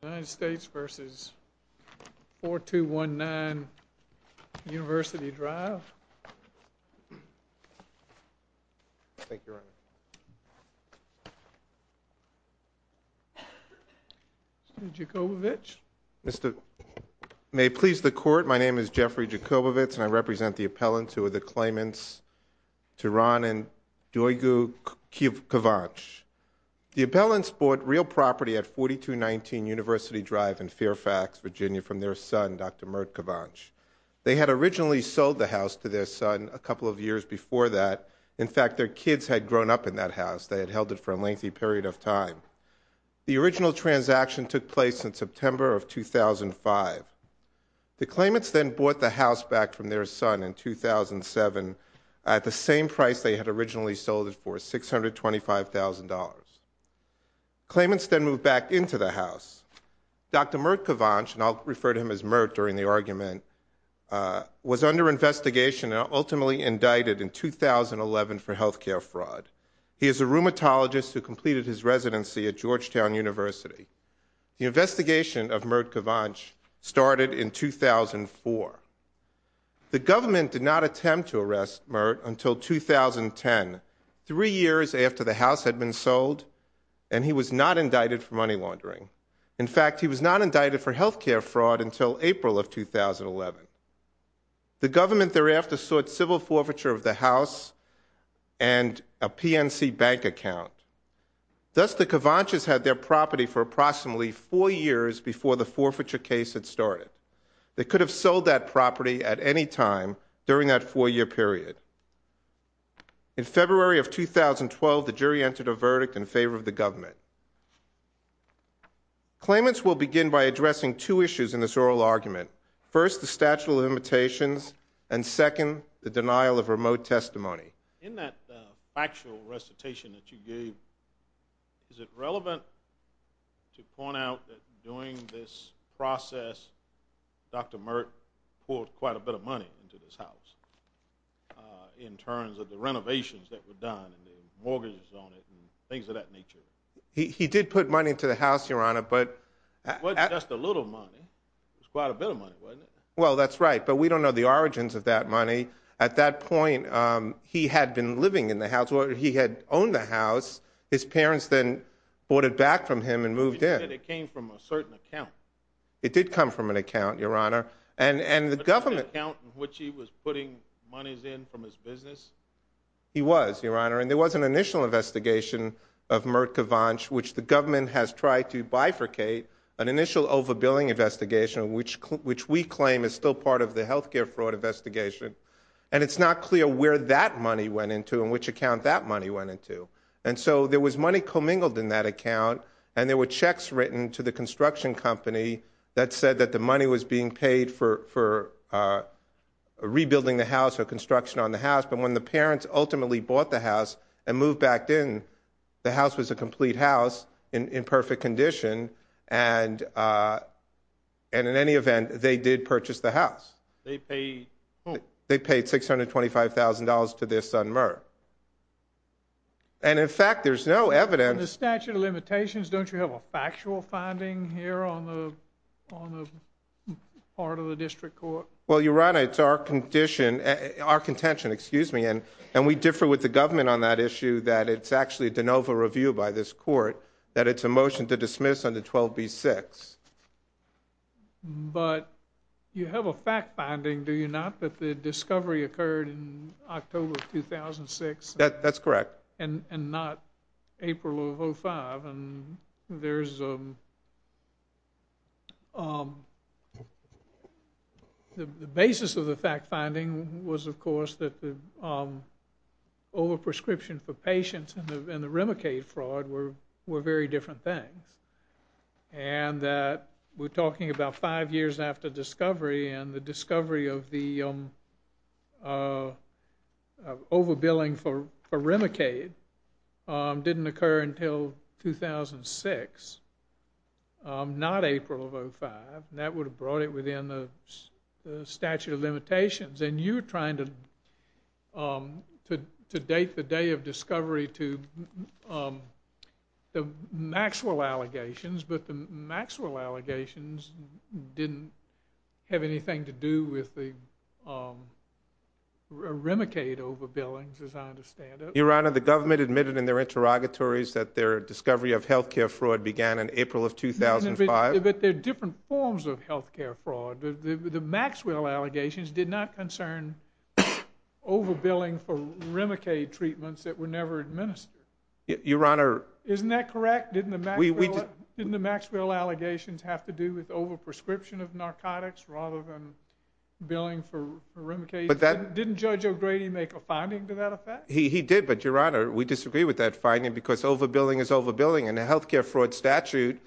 United States v. 4219 University Drive Thank you, Your Honor Mr. Jakubowicz May it please the Court, my name is Jeffrey Jakubowicz and I represent the appellants who are the claimants Turan and Duygu Kivac The appellants bought real property at 4219 University Drive in Fairfax, Virginia from their son, Dr. Mert Kivac They had originally sold the house to their son a couple of years before that In fact, their kids had grown up in that house They had held it for a lengthy period of time The original transaction took place in September of 2005 The claimants then bought the house back from their son in 2007 at the same price they had originally sold it for, $625,000 Claimants then moved back into the house Dr. Mert Kivac, and I'll refer to him as Mert during the argument was under investigation and ultimately indicted in 2011 for health care fraud He is a rheumatologist who completed his residency at Georgetown University The investigation of Mert Kivac started in 2004 The government did not attempt to arrest Mert until 2010 three years after the house had been sold and he was not indicted for money laundering In fact, he was not indicted for health care fraud until April of 2011 The government thereafter sought civil forfeiture of the house and a PNC bank account Thus, the Kivacs had their property for approximately four years before the forfeiture case had started They could have sold that property at any time during that four-year period In February of 2012, the jury entered a verdict in favor of the government Claimants will begin by addressing two issues in this oral argument First, the statute of limitations and second, the denial of remote testimony In that factual recitation that you gave Is it relevant to point out that during this process Dr. Mert poured quite a bit of money into this house in terms of the renovations that were done and the mortgages on it and things of that nature He did put money into the house, Your Honor, but It wasn't just a little money. It was quite a bit of money, wasn't it? Well, that's right, but we don't know the origins of that money At that point, he had been living in the house That's where he had owned the house His parents then bought it back from him and moved in You said it came from a certain account It did come from an account, Your Honor And the government... Was it an account in which he was putting monies in from his business? He was, Your Honor, and there was an initial investigation of Mert Kivac which the government has tried to bifurcate An initial over-billing investigation which we claim is still part of the healthcare fraud investigation And it's not clear where that money went into and which account that money went into And so there was money commingled in that account and there were checks written to the construction company that said that the money was being paid for rebuilding the house or construction on the house But when the parents ultimately bought the house and moved back in, the house was a complete house in perfect condition And in any event, they did purchase the house They paid $625,000 to their son Mert And in fact, there's no evidence... In the statute of limitations, don't you have a factual finding here on the part of the district court? Well, Your Honor, it's our contention And we differ with the government on that issue that it's actually a de novo review by this court that it's a motion to dismiss under 12b-6 But you have a fact finding, do you not, that the discovery occurred in October 2006? That's correct And not April of 05 The basis of the fact finding was, of course, that the overprescription for patients and the Remicade fraud were very different things And that we're talking about five years after discovery and the discovery of the overbilling for Remicade didn't occur until 2006 Not April of 05 That would have brought it within the statute of limitations And you're trying to date the day of discovery to the Maxwell allegations But the Maxwell allegations didn't have anything to do with the Remicade overbillings, as I understand it Your Honor, the government admitted in their interrogatories that their discovery of healthcare fraud began in April of 2005 But they're different forms of healthcare fraud The Maxwell allegations did not concern overbilling for Remicade treatments that were never administered Your Honor Isn't that correct? Didn't the Maxwell allegations have to do with overprescription of narcotics rather than billing for Remicade? Didn't Judge O'Grady make a finding to that effect? He did, but Your Honor, we disagree with that finding because overbilling is overbilling And a healthcare fraud statute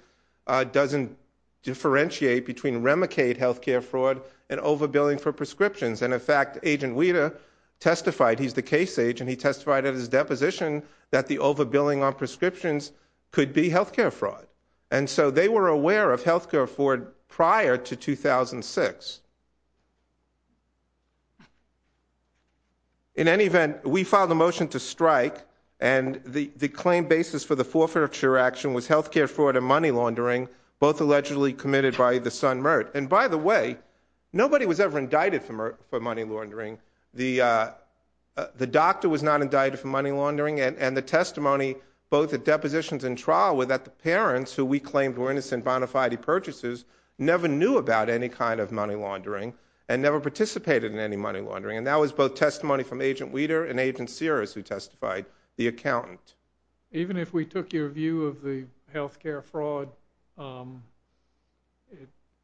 doesn't differentiate between Remicade healthcare fraud and overbilling for prescriptions And in fact, Agent Weta testified, he's the case agent He testified at his deposition that the overbilling on prescriptions could be healthcare fraud And so they were aware of healthcare fraud prior to 2006 In any event, we filed a motion to strike And the claim basis for the forfeiture action was healthcare fraud and money laundering both allegedly committed by the son, Mert And by the way, nobody was ever indicted for money laundering The doctor was not indicted for money laundering And the testimony, both at depositions and trial were that the parents, who we claimed were innocent bona fide purchasers, never knew about any kind of money laundering and never participated in any money laundering And that was both testimony from Agent Weta and Agent Sears who testified, the accountant Even if we took your view of the healthcare fraud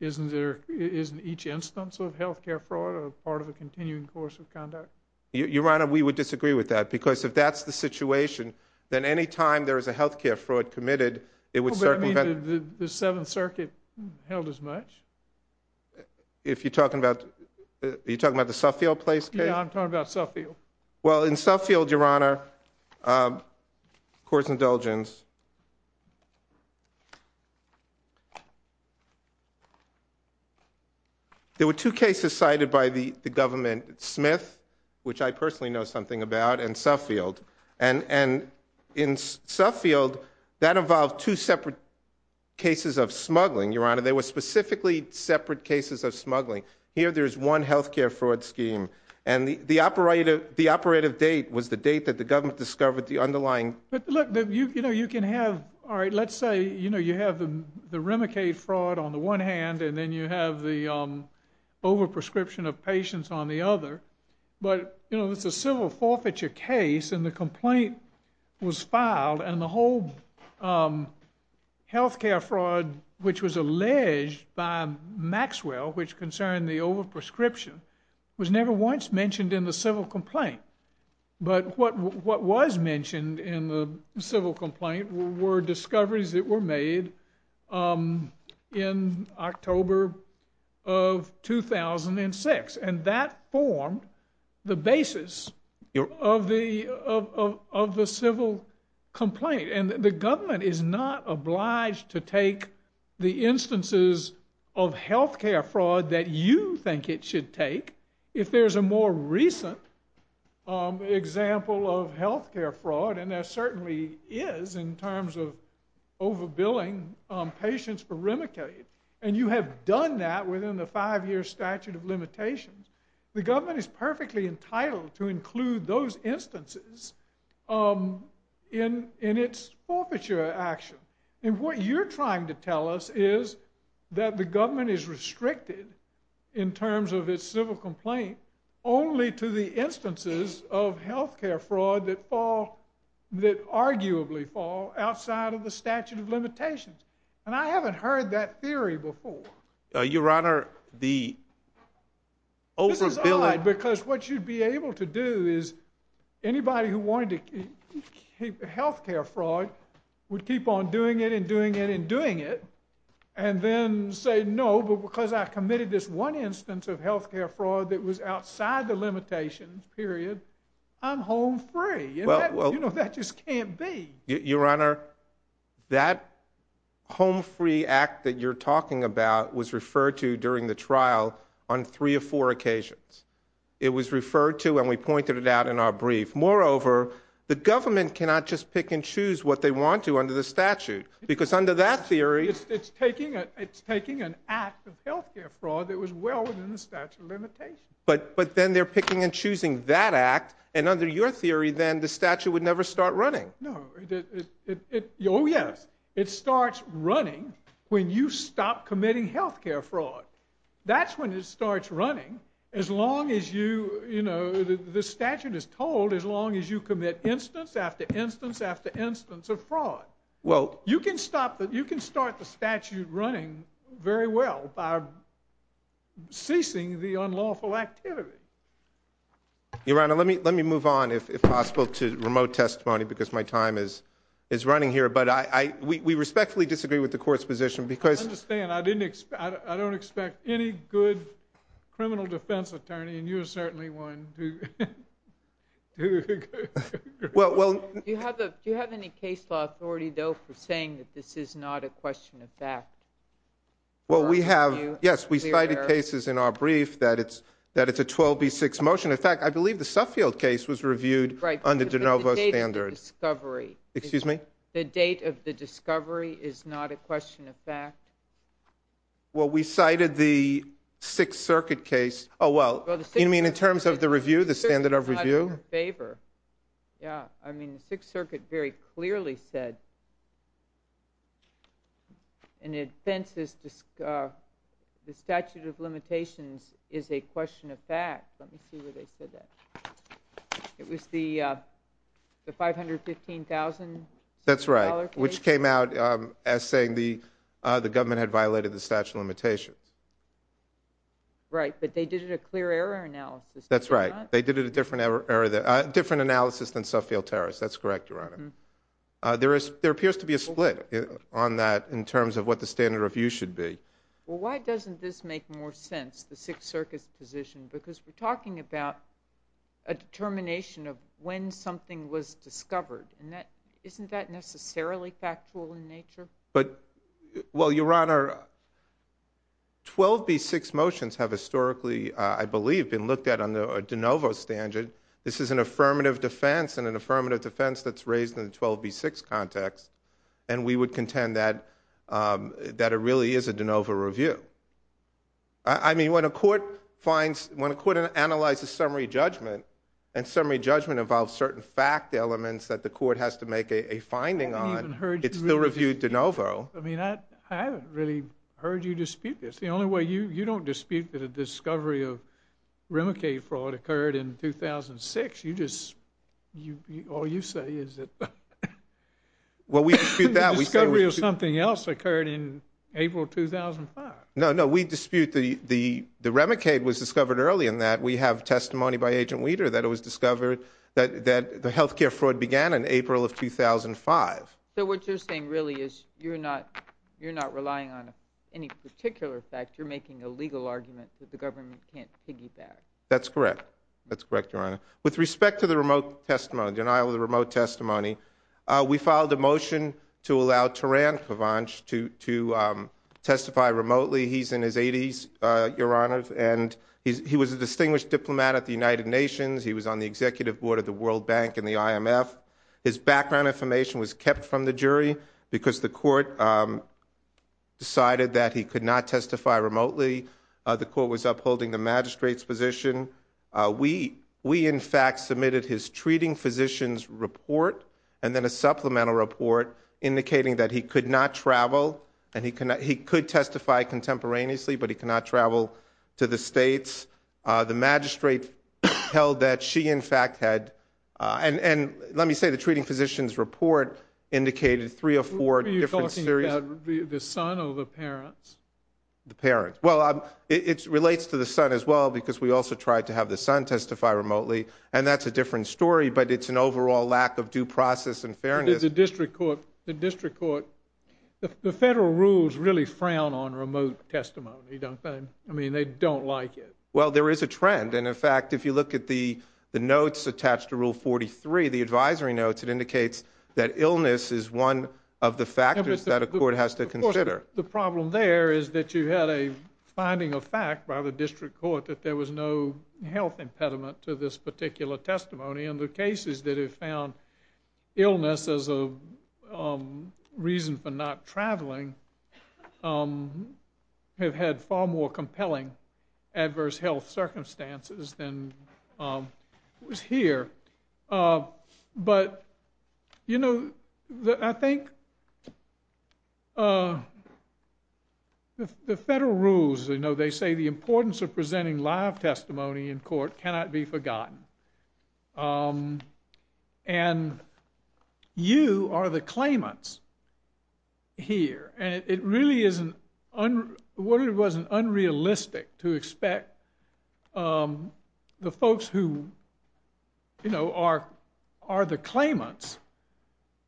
Isn't there, isn't each instance of healthcare fraud a part of a continuing course of conduct? Your Honor, we would disagree with that Because if that's the situation then any time there is a healthcare fraud committed it would circumvent The Seventh Circuit held as much If you're talking about, are you talking about the Suffield Place case? Yeah, I'm talking about Suffield Well, in Suffield, Your Honor Court's indulgence There were two cases cited by the government Smith, which I personally know something about and Suffield And in Suffield, that involved two separate cases of smuggling Your Honor, there were specifically separate cases of smuggling Here there's one healthcare fraud scheme And the operative date was the date that the government discovered the underlying But look, you know, you can have Alright, let's say, you know, you have the the Remicade fraud on the one hand and then you have the overprescription of patients on the other But, you know, it's a civil forfeiture case and the complaint was filed and the whole healthcare fraud which was alleged by Maxwell which concerned the overprescription was never once mentioned in the civil complaint But what was mentioned in the civil complaint were discoveries that were made in October of 2006 And that formed the basis of the civil complaint And the government is not obliged to take the instances of healthcare fraud that you think it should take If there's a more recent example of healthcare fraud and there certainly is in terms of overbilling patients for Remicade And you have done that within the five year statute of limitations The government is perfectly entitled to include those instances in its forfeiture action And what you're trying to tell us is that the government is restricted in terms of its civil complaint only to the instances of healthcare fraud that fall that arguably fall outside of the statute of limitations And I haven't heard that theory before Your Honor, the overbilling This is odd because what you'd be able to do is anybody who wanted to healthcare fraud would keep on doing it and doing it and doing it and then say no but because I committed this one instance of healthcare fraud that was outside the limitations period I'm home free You know, that just can't be Your Honor that home free act that you're talking about was referred to during the trial on three or four occasions It was referred to and we pointed it out in our brief Moreover, the government cannot just pick and choose what they want to under the statute because under that theory It's taking an act of healthcare fraud that was well within the statute of limitations But then they're picking and choosing that act and under your theory then the statute would never start running No, it Oh yes It starts running when you stop committing healthcare fraud That's when it starts running as long as you you know the statute is told as long as you commit instance after instance after instance of fraud Well You can start the statute running very well by releasing the unlawful activity Your Honor, let me move on if possible to remote testimony because my time is is running here but we respectfully disagree with the court's position because I understand I don't expect any good criminal defense attorney and you're certainly one for saying that this is not a question of fact? Well, we have Yes, we cited cases in our brief that it's that it's a 12B6 motion In fact, I believe the Suffield case was reviewed Right under de novo standard The date of the discovery Excuse me? The date of the discovery is not a question of fact? Well, we cited the Sixth Circuit case Oh well You mean in terms of the review? The standard of review? The Sixth Circuit is not in favor Yeah I mean the Sixth Circuit very clearly said An offense is the statute of limitations is a question of fact Let me see where they said that It was the the 515,000 That's right which came out as saying the the government had violated the statute of limitations Right, but they did it a clear error analysis They did it a different error different analysis than Suffield-Terrace That's correct, Your Honor There appears to be a split on that in terms of what the standard of review should be Well, why doesn't this make more sense the Sixth Circuit's position because we're talking about a determination of when something was discovered Isn't that necessarily factual in nature? Well, Your Honor 12B6 motions have historically I believe been looked at under de novo standard This is an affirmative defense and an affirmative defense that's raised in the 12B6 context and we would contend that that it really is a de novo review I mean, when a court finds when a court analyzes summary judgment and summary judgment involves certain fact elements that the court has to make a finding on I haven't even heard you review It's still reviewed de novo I mean, I haven't really heard you dispute this The only way you You don't dispute that a discovery of Remicade fraud occurred in 2006 You just All you say is that Well, we dispute that The discovery of something else occurred in April 2005 No, no, we dispute the The Remicade was discovered early in that We have testimony by Agent Weider that it was discovered that the health care fraud began in April of 2005 So what you're saying really is you're not relying on any particular fact You're making a legal argument that the government can't piggyback That's correct That's correct, Your Honor With respect to the remote testimony denial of the remote testimony We filed a motion to allow Teran Kavanch to testify remotely He's in his 80s, Your Honor And he was a distinguished diplomat at the United Nations He was on the executive board of the World Bank and the IMF His background information was kept from the jury The court was upholding the magistrate's position We, in fact, submitted his treating physician's report and then a supplemental report indicating that he could not travel and he could testify contemporaneously but he could not travel to the States The magistrate held that she, in fact, had And let me say the treating physician's report indicated three or four different series Were you talking about the son or the parents? The parents Well, it relates to the son as well because we also tried to have the son testify remotely and that's a different story but it's an overall lack of due process and fairness The district court The federal rules really frown on remote testimony I mean, they don't like it Well, there is a trend and, in fact, if you look at the notes attached to Rule 43 the advisory notes it indicates that illness is one of the factors that a court has to consider The problem there is that you had a finding of fact by the district court that there was no health impediment to this particular testimony and the cases that have found illness as a reason for not traveling have had far more compelling adverse health circumstances than was here But, you know, I think the federal rules, you know, they say the importance of presenting live testimony in court cannot be forgotten and you are the claimants here and it really is an what it was an unrealistic to expect the folks who, you know, are the claimants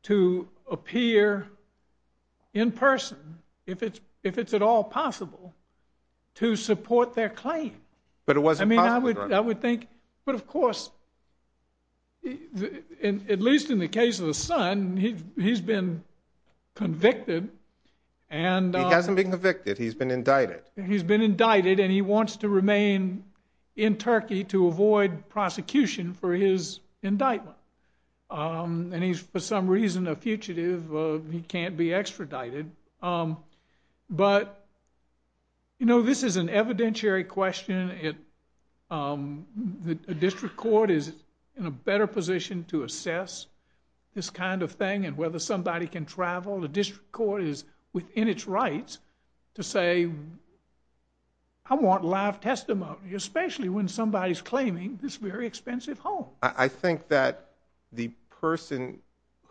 to appear in person if it's at all possible to support their claim I mean, I would think but, of course, at least in the case of the son he's been convicted He hasn't been convicted, he's been indicted He's been indicted and he wants to remain in Turkey to avoid prosecution for his indictment and he's for some reason a fugitive He can't be extradited But, you know, this is an evidentiary question The district court is in a better position to assess this kind of thing and whether somebody can travel The district court is within its rights to say, I want live testimony especially when somebody's claiming this very expensive home I think that the person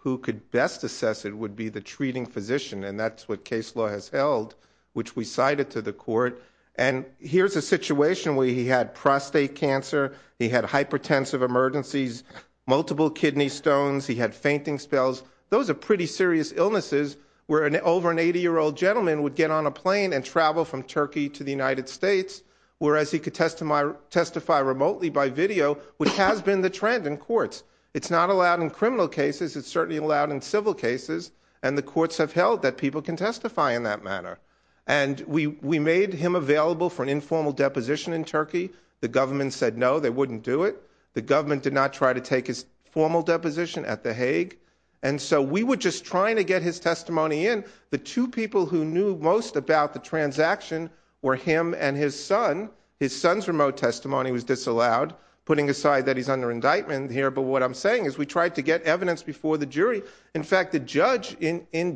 who could best assess it would be the treating physician and that's what case law has held which we cited to the court and here's a situation where he had prostate cancer he had hypertensive emergencies multiple kidney stones he had fainting spells Those are pretty serious illnesses where over an 80-year-old gentleman would get on a plane and travel from Turkey to the United States whereas he could testify remotely by video which has been the trend in courts It's not allowed in criminal cases It's certainly allowed in civil cases and the courts have held that people can testify in that manner and we made him available for an informal deposition in Turkey The government said no, they wouldn't do it The government did not try to take his formal deposition at The Hague and so we were just trying to get his testimony in The two people who knew most about the transaction were him and his son His son's remote testimony was disallowed putting aside that he's under indictment here but what I'm saying is we tried to get evidence before the jury In fact, the judge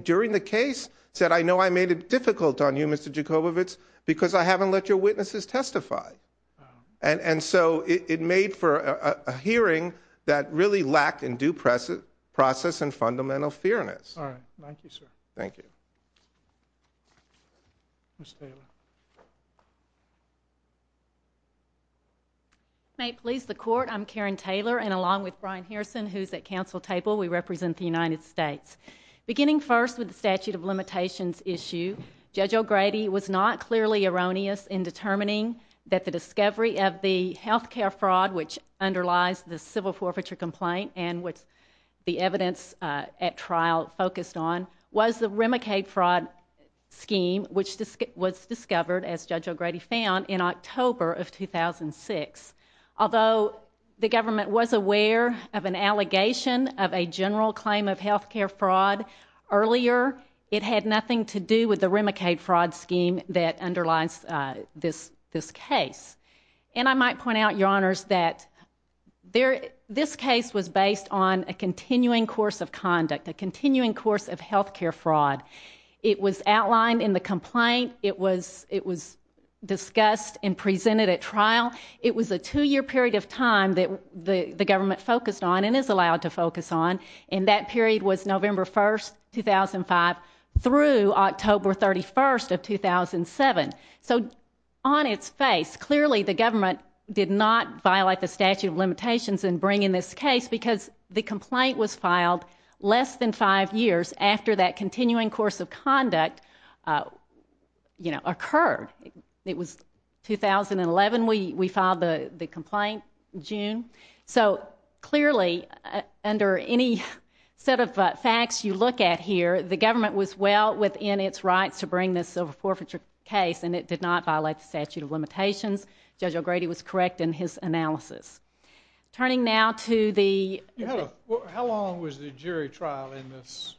during the case said I know I made it difficult on you, Mr. Jakobovits because I haven't let your witnesses testify and so it made for a hearing that really lacked in due process and fundamental fairness All right, thank you, sir Thank you Ms. Taylor Please, the court, I'm Karen Taylor and along with Brian Harrison, who's at council table we represent the United States Beginning first with the statute of limitations issue Judge O'Grady was not clearly erroneous in determining that the discovery of the health care fraud which underlies the civil forfeiture complaint and which the evidence at trial focused on was the Remicade fraud scheme which was discovered, as Judge O'Grady found, in October of 2006 Although the government was aware of an allegation of a general claim of health care fraud earlier it had nothing to do with the Remicade fraud scheme that underlies this case And I might point out, Your Honors, that this case was based on a continuing course of conduct a continuing course of health care fraud It was outlined in the complaint It was discussed and presented at trial It was a two-year period of time that the government focused on and is allowed to focus on And that period was November 1st, 2005 through October 31st of 2007 So, on its face, clearly the government did not violate the statute of limitations in bringing this case because the complaint was filed less than five years after that continuing course of conduct, you know, occurred It was 2011 we filed the complaint, June So, clearly, under any set of facts you look at here the government was well within its rights to bring this silver forfeiture case and it did not violate the statute of limitations Judge O'Grady was correct in his analysis Turning now to the... How long was the jury trial in this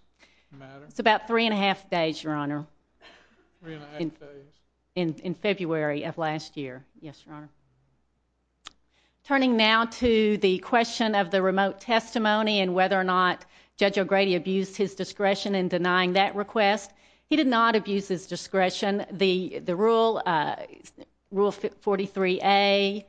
matter? It's about three and a half days, Your Honor Three and a half days In February of last year Yes, Your Honor Turning now to the question of the remote testimony and whether or not Judge O'Grady abused his discretion in denying that request He did not abuse his discretion The rule, Rule 43A,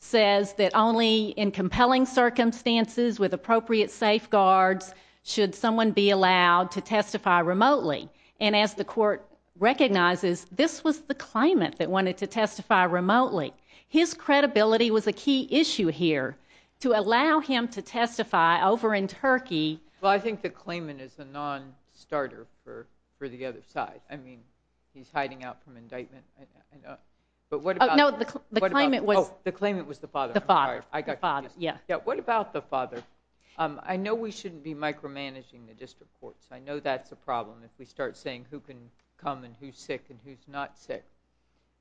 says that only in compelling circumstances with appropriate safeguards should someone be allowed to testify remotely And as the court recognizes this was the claimant that wanted to testify remotely His credibility was a key issue here to allow him to testify over in Turkey Well, I think the claimant is a non-starter for the other side I mean, he's hiding out from indictment I know But what about... No, the claimant was... Oh, the claimant was the father The father I got confused Yeah, what about the father? I know we shouldn't be micromanaging the district courts I know that's a problem if we start saying who can come and who's sick and who's not sick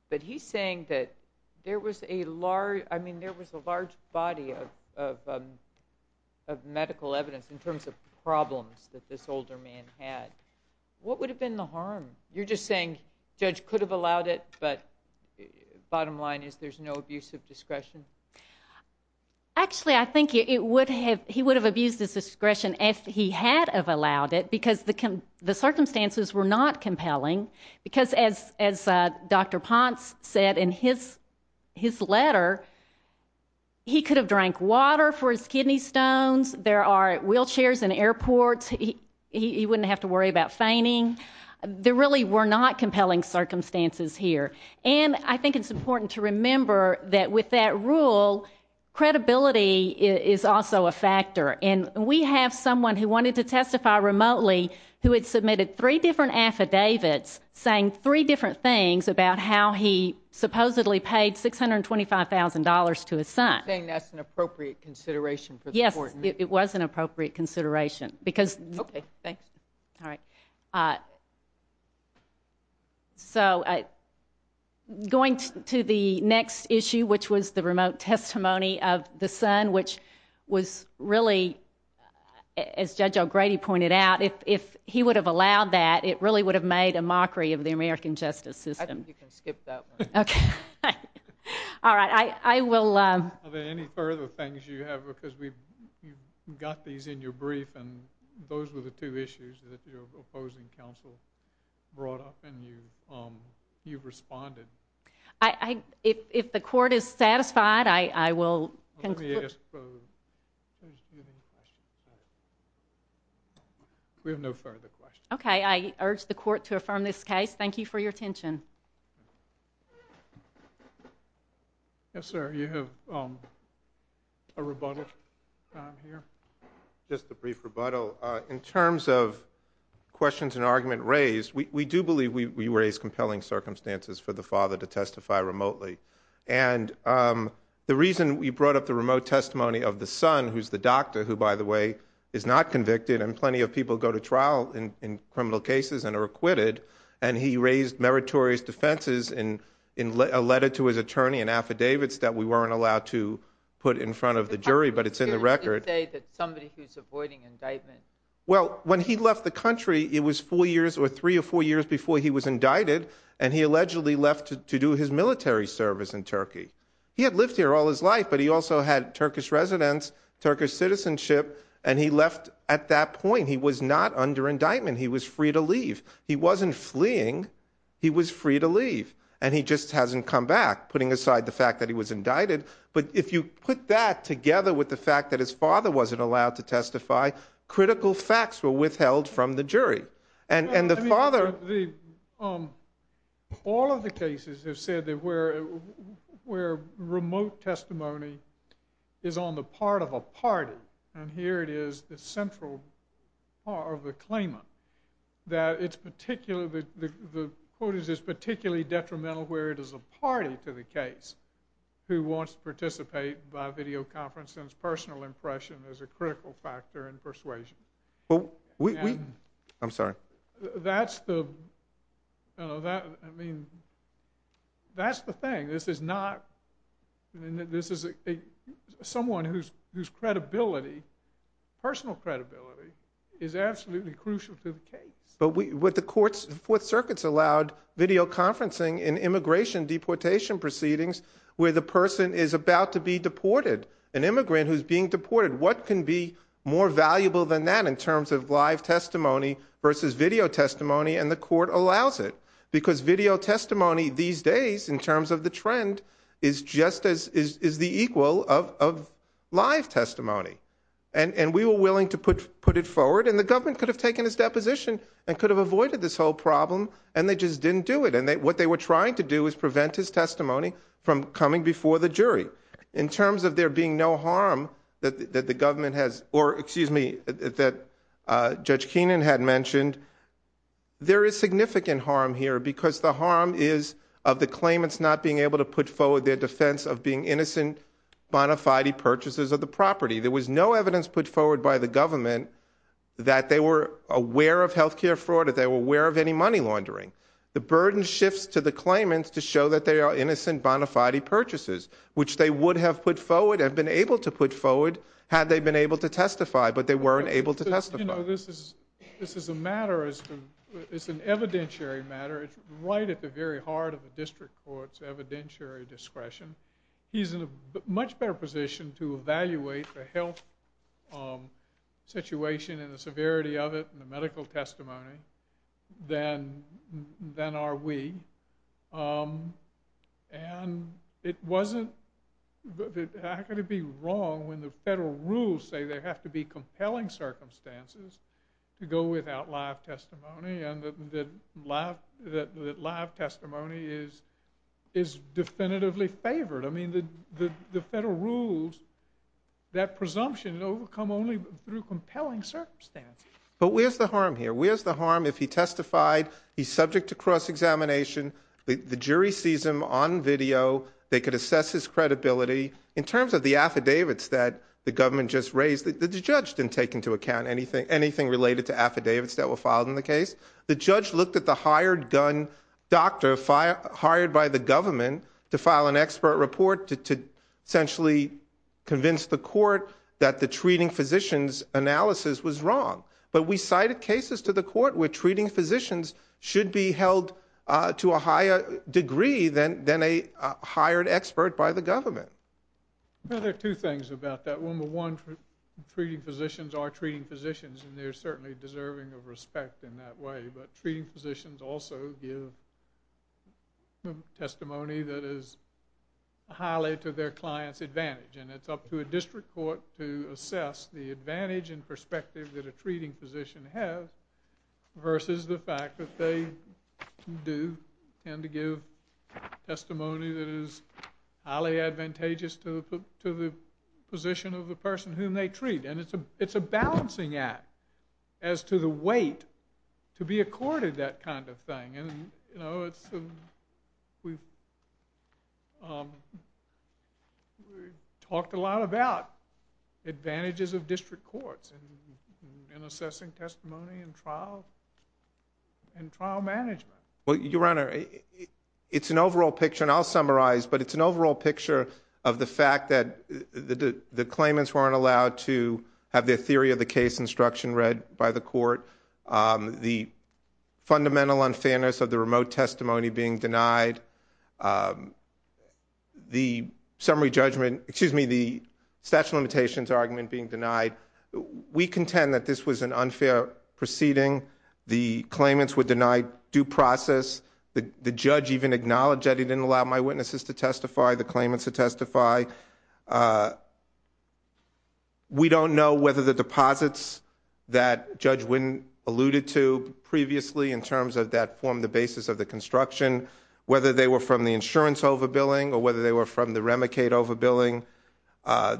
But he's saying that there was a large... I mean, there was a large body of medical evidence in terms of problems that this older man had What would have been the harm? You're just saying Judge could have allowed it but bottom line is there's no abuse of discretion? Actually, I think he would have abused his discretion if he had allowed it because the circumstances were not compelling because as Dr. Ponce said in his letter he could have drank water for his kidney stones there are wheelchairs in airports he wouldn't have to worry about fainting There really were not compelling circumstances here and I think it's important to remember that with that rule credibility is also a factor and we have someone who wanted to testify remotely who had submitted three different affidavits saying three different things about how he supposedly paid $625,000 to his son You're saying that's an appropriate consideration for the court? Yes, it was an appropriate consideration because... Okay, thanks All right So, going to the next issue which was the remote testimony of the son which was really... as Judge O'Grady pointed out if he would have allowed that it really would have made a mockery of the American justice system I think you can skip that one Okay All right, I will... Are there any further things you have because we've got these in your brief and those were the two issues that your opposing counsel brought up and you've responded If the court is satisfied I will... We have no further questions Okay, I urge the court to affirm this case Thank you for your attention Yes, sir, you have a rebuttal time here Just a brief rebuttal In terms of questions and argument raised we do believe we raise compelling circumstances for the father to testify remotely And the reason we brought up the remote testimony of the son who's the doctor who, by the way, is not convicted and plenty of people go to trial in criminal cases and are acquitted and he raised meritorious defenses in a letter to his attorney in affidavits that we weren't allowed to put in front of the jury but it's in the record How can you say that somebody who's avoiding indictment... Well, when he left the country it was four years or three or four years before he was indicted and he allegedly left to do his military service in Turkey He had lived here all his life but he also had Turkish residence Turkish citizenship and he left at that point He was not under indictment He was free to leave He wasn't fleeing He was free to leave And he just hasn't come back putting aside the fact that he was indicted But if you put that together with the fact that his father wasn't allowed to testify critical facts were withheld from the jury And the father... All of the cases have said that where remote testimony is on the part of a party and here it is the central part of the claimant that it's particularly the quote is it's particularly detrimental where it is a party to the case who wants to participate by videoconference and his personal impression is a critical factor in persuasion I'm sorry That's the... That's the thing This is not... Someone whose credibility personal credibility is absolutely crucial to the case But the courts the Fourth Circuit's allowed videoconferencing in immigration deportation proceedings where the person is about to be deported An immigrant who's being deported What can be more valuable than that in terms of live testimony versus video testimony and the court allows it because video testimony these days in terms of the trend is just as... is the equal of live testimony And we were willing to put it forward and the government could have taken his deposition and could have avoided this whole problem and they just didn't do it And what they were trying to do was prevent his testimony from coming before the jury In terms of there being no harm that the government has... or excuse me that Judge Keenan had mentioned there is significant harm here because the harm is of the claimants not being able to put forward their defense of being innocent bona fide purchases of the property There was no evidence put forward by the government that they were aware of healthcare fraud or they were aware of any money laundering The burden shifts to the claimants to show that they are innocent bona fide purchases which they would have put forward and been able to put forward had they been able to testify but they weren't able to testify You know, this is a matter it's an evidentiary matter it's right at the very heart of the district court's evidentiary discretion He's in a much better position to evaluate the health situation and the severity of it and the medical testimony than are we And it wasn't... I could be wrong when the federal rules say there have to be compelling circumstances to go without live testimony and that live testimony is definitively favored I mean, the federal rules that presumption overcome only through compelling circumstances But where's the harm here? Where's the harm if he testified he's subject to cross-examination the jury sees him on video they could assess his credibility in terms of the affidavits that the government just raised The judge didn't take into account anything related to affidavits that were filed in the case The judge looked at the hired gun doctor hired by the government to file an expert report to essentially convince the court that the treating physicians analysis was wrong But we cited cases to the court where treating physicians should be held to a higher degree than a hired expert by the government Well, there are two things about that One, treating physicians are treating physicians and they're certainly deserving of respect in that way but treating physicians also give testimony that is highly to their client's advantage and it's up to a district court to assess the advantage and perspective that a treating physician has versus the fact that they do tend to give testimony that is highly advantageous to the position of the person whom they treat and it's a balancing act as to the weight to be accorded that kind of thing and, you know, it's we've talked a lot about advantages of district courts in assessing testimony in trial in trial management Well, Your Honor it's an overall picture and I'll summarize but it's an overall picture of the fact that the claimants weren't allowed to have their theory of the case instruction read by the court the fundamental unfairness of the remote testimony being denied the summary judgment excuse me, the statute of limitations argument being denied we contend that this was an unfair proceeding the claimants were denied due process the judge even acknowledged that they didn't allow my witnesses to testify the claimants to testify we don't know whether the deposits that Judge Winn alluded to previously in terms of that form the basis of the construction whether they were from the insurance overbilling or whether they were from the Remicade overbilling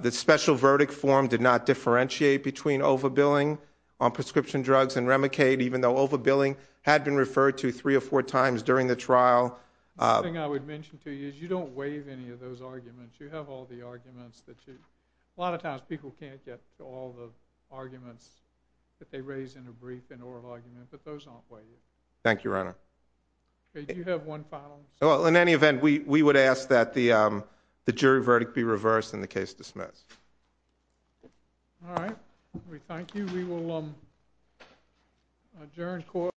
the special verdict form did not differentiate between overbilling on prescription drugs and Remicade even though overbilling had been referred to three or four times during the trial one thing I would mention to you is you don't waive any of those arguments you have all the arguments that you a lot of times people can't get all the arguments that they raise in a brief and oral argument but those aren't waived thank you, your honor you have one final in any event we would ask that the jury verdict be reversed and the case dismissed all right, we thank you we will adjourn court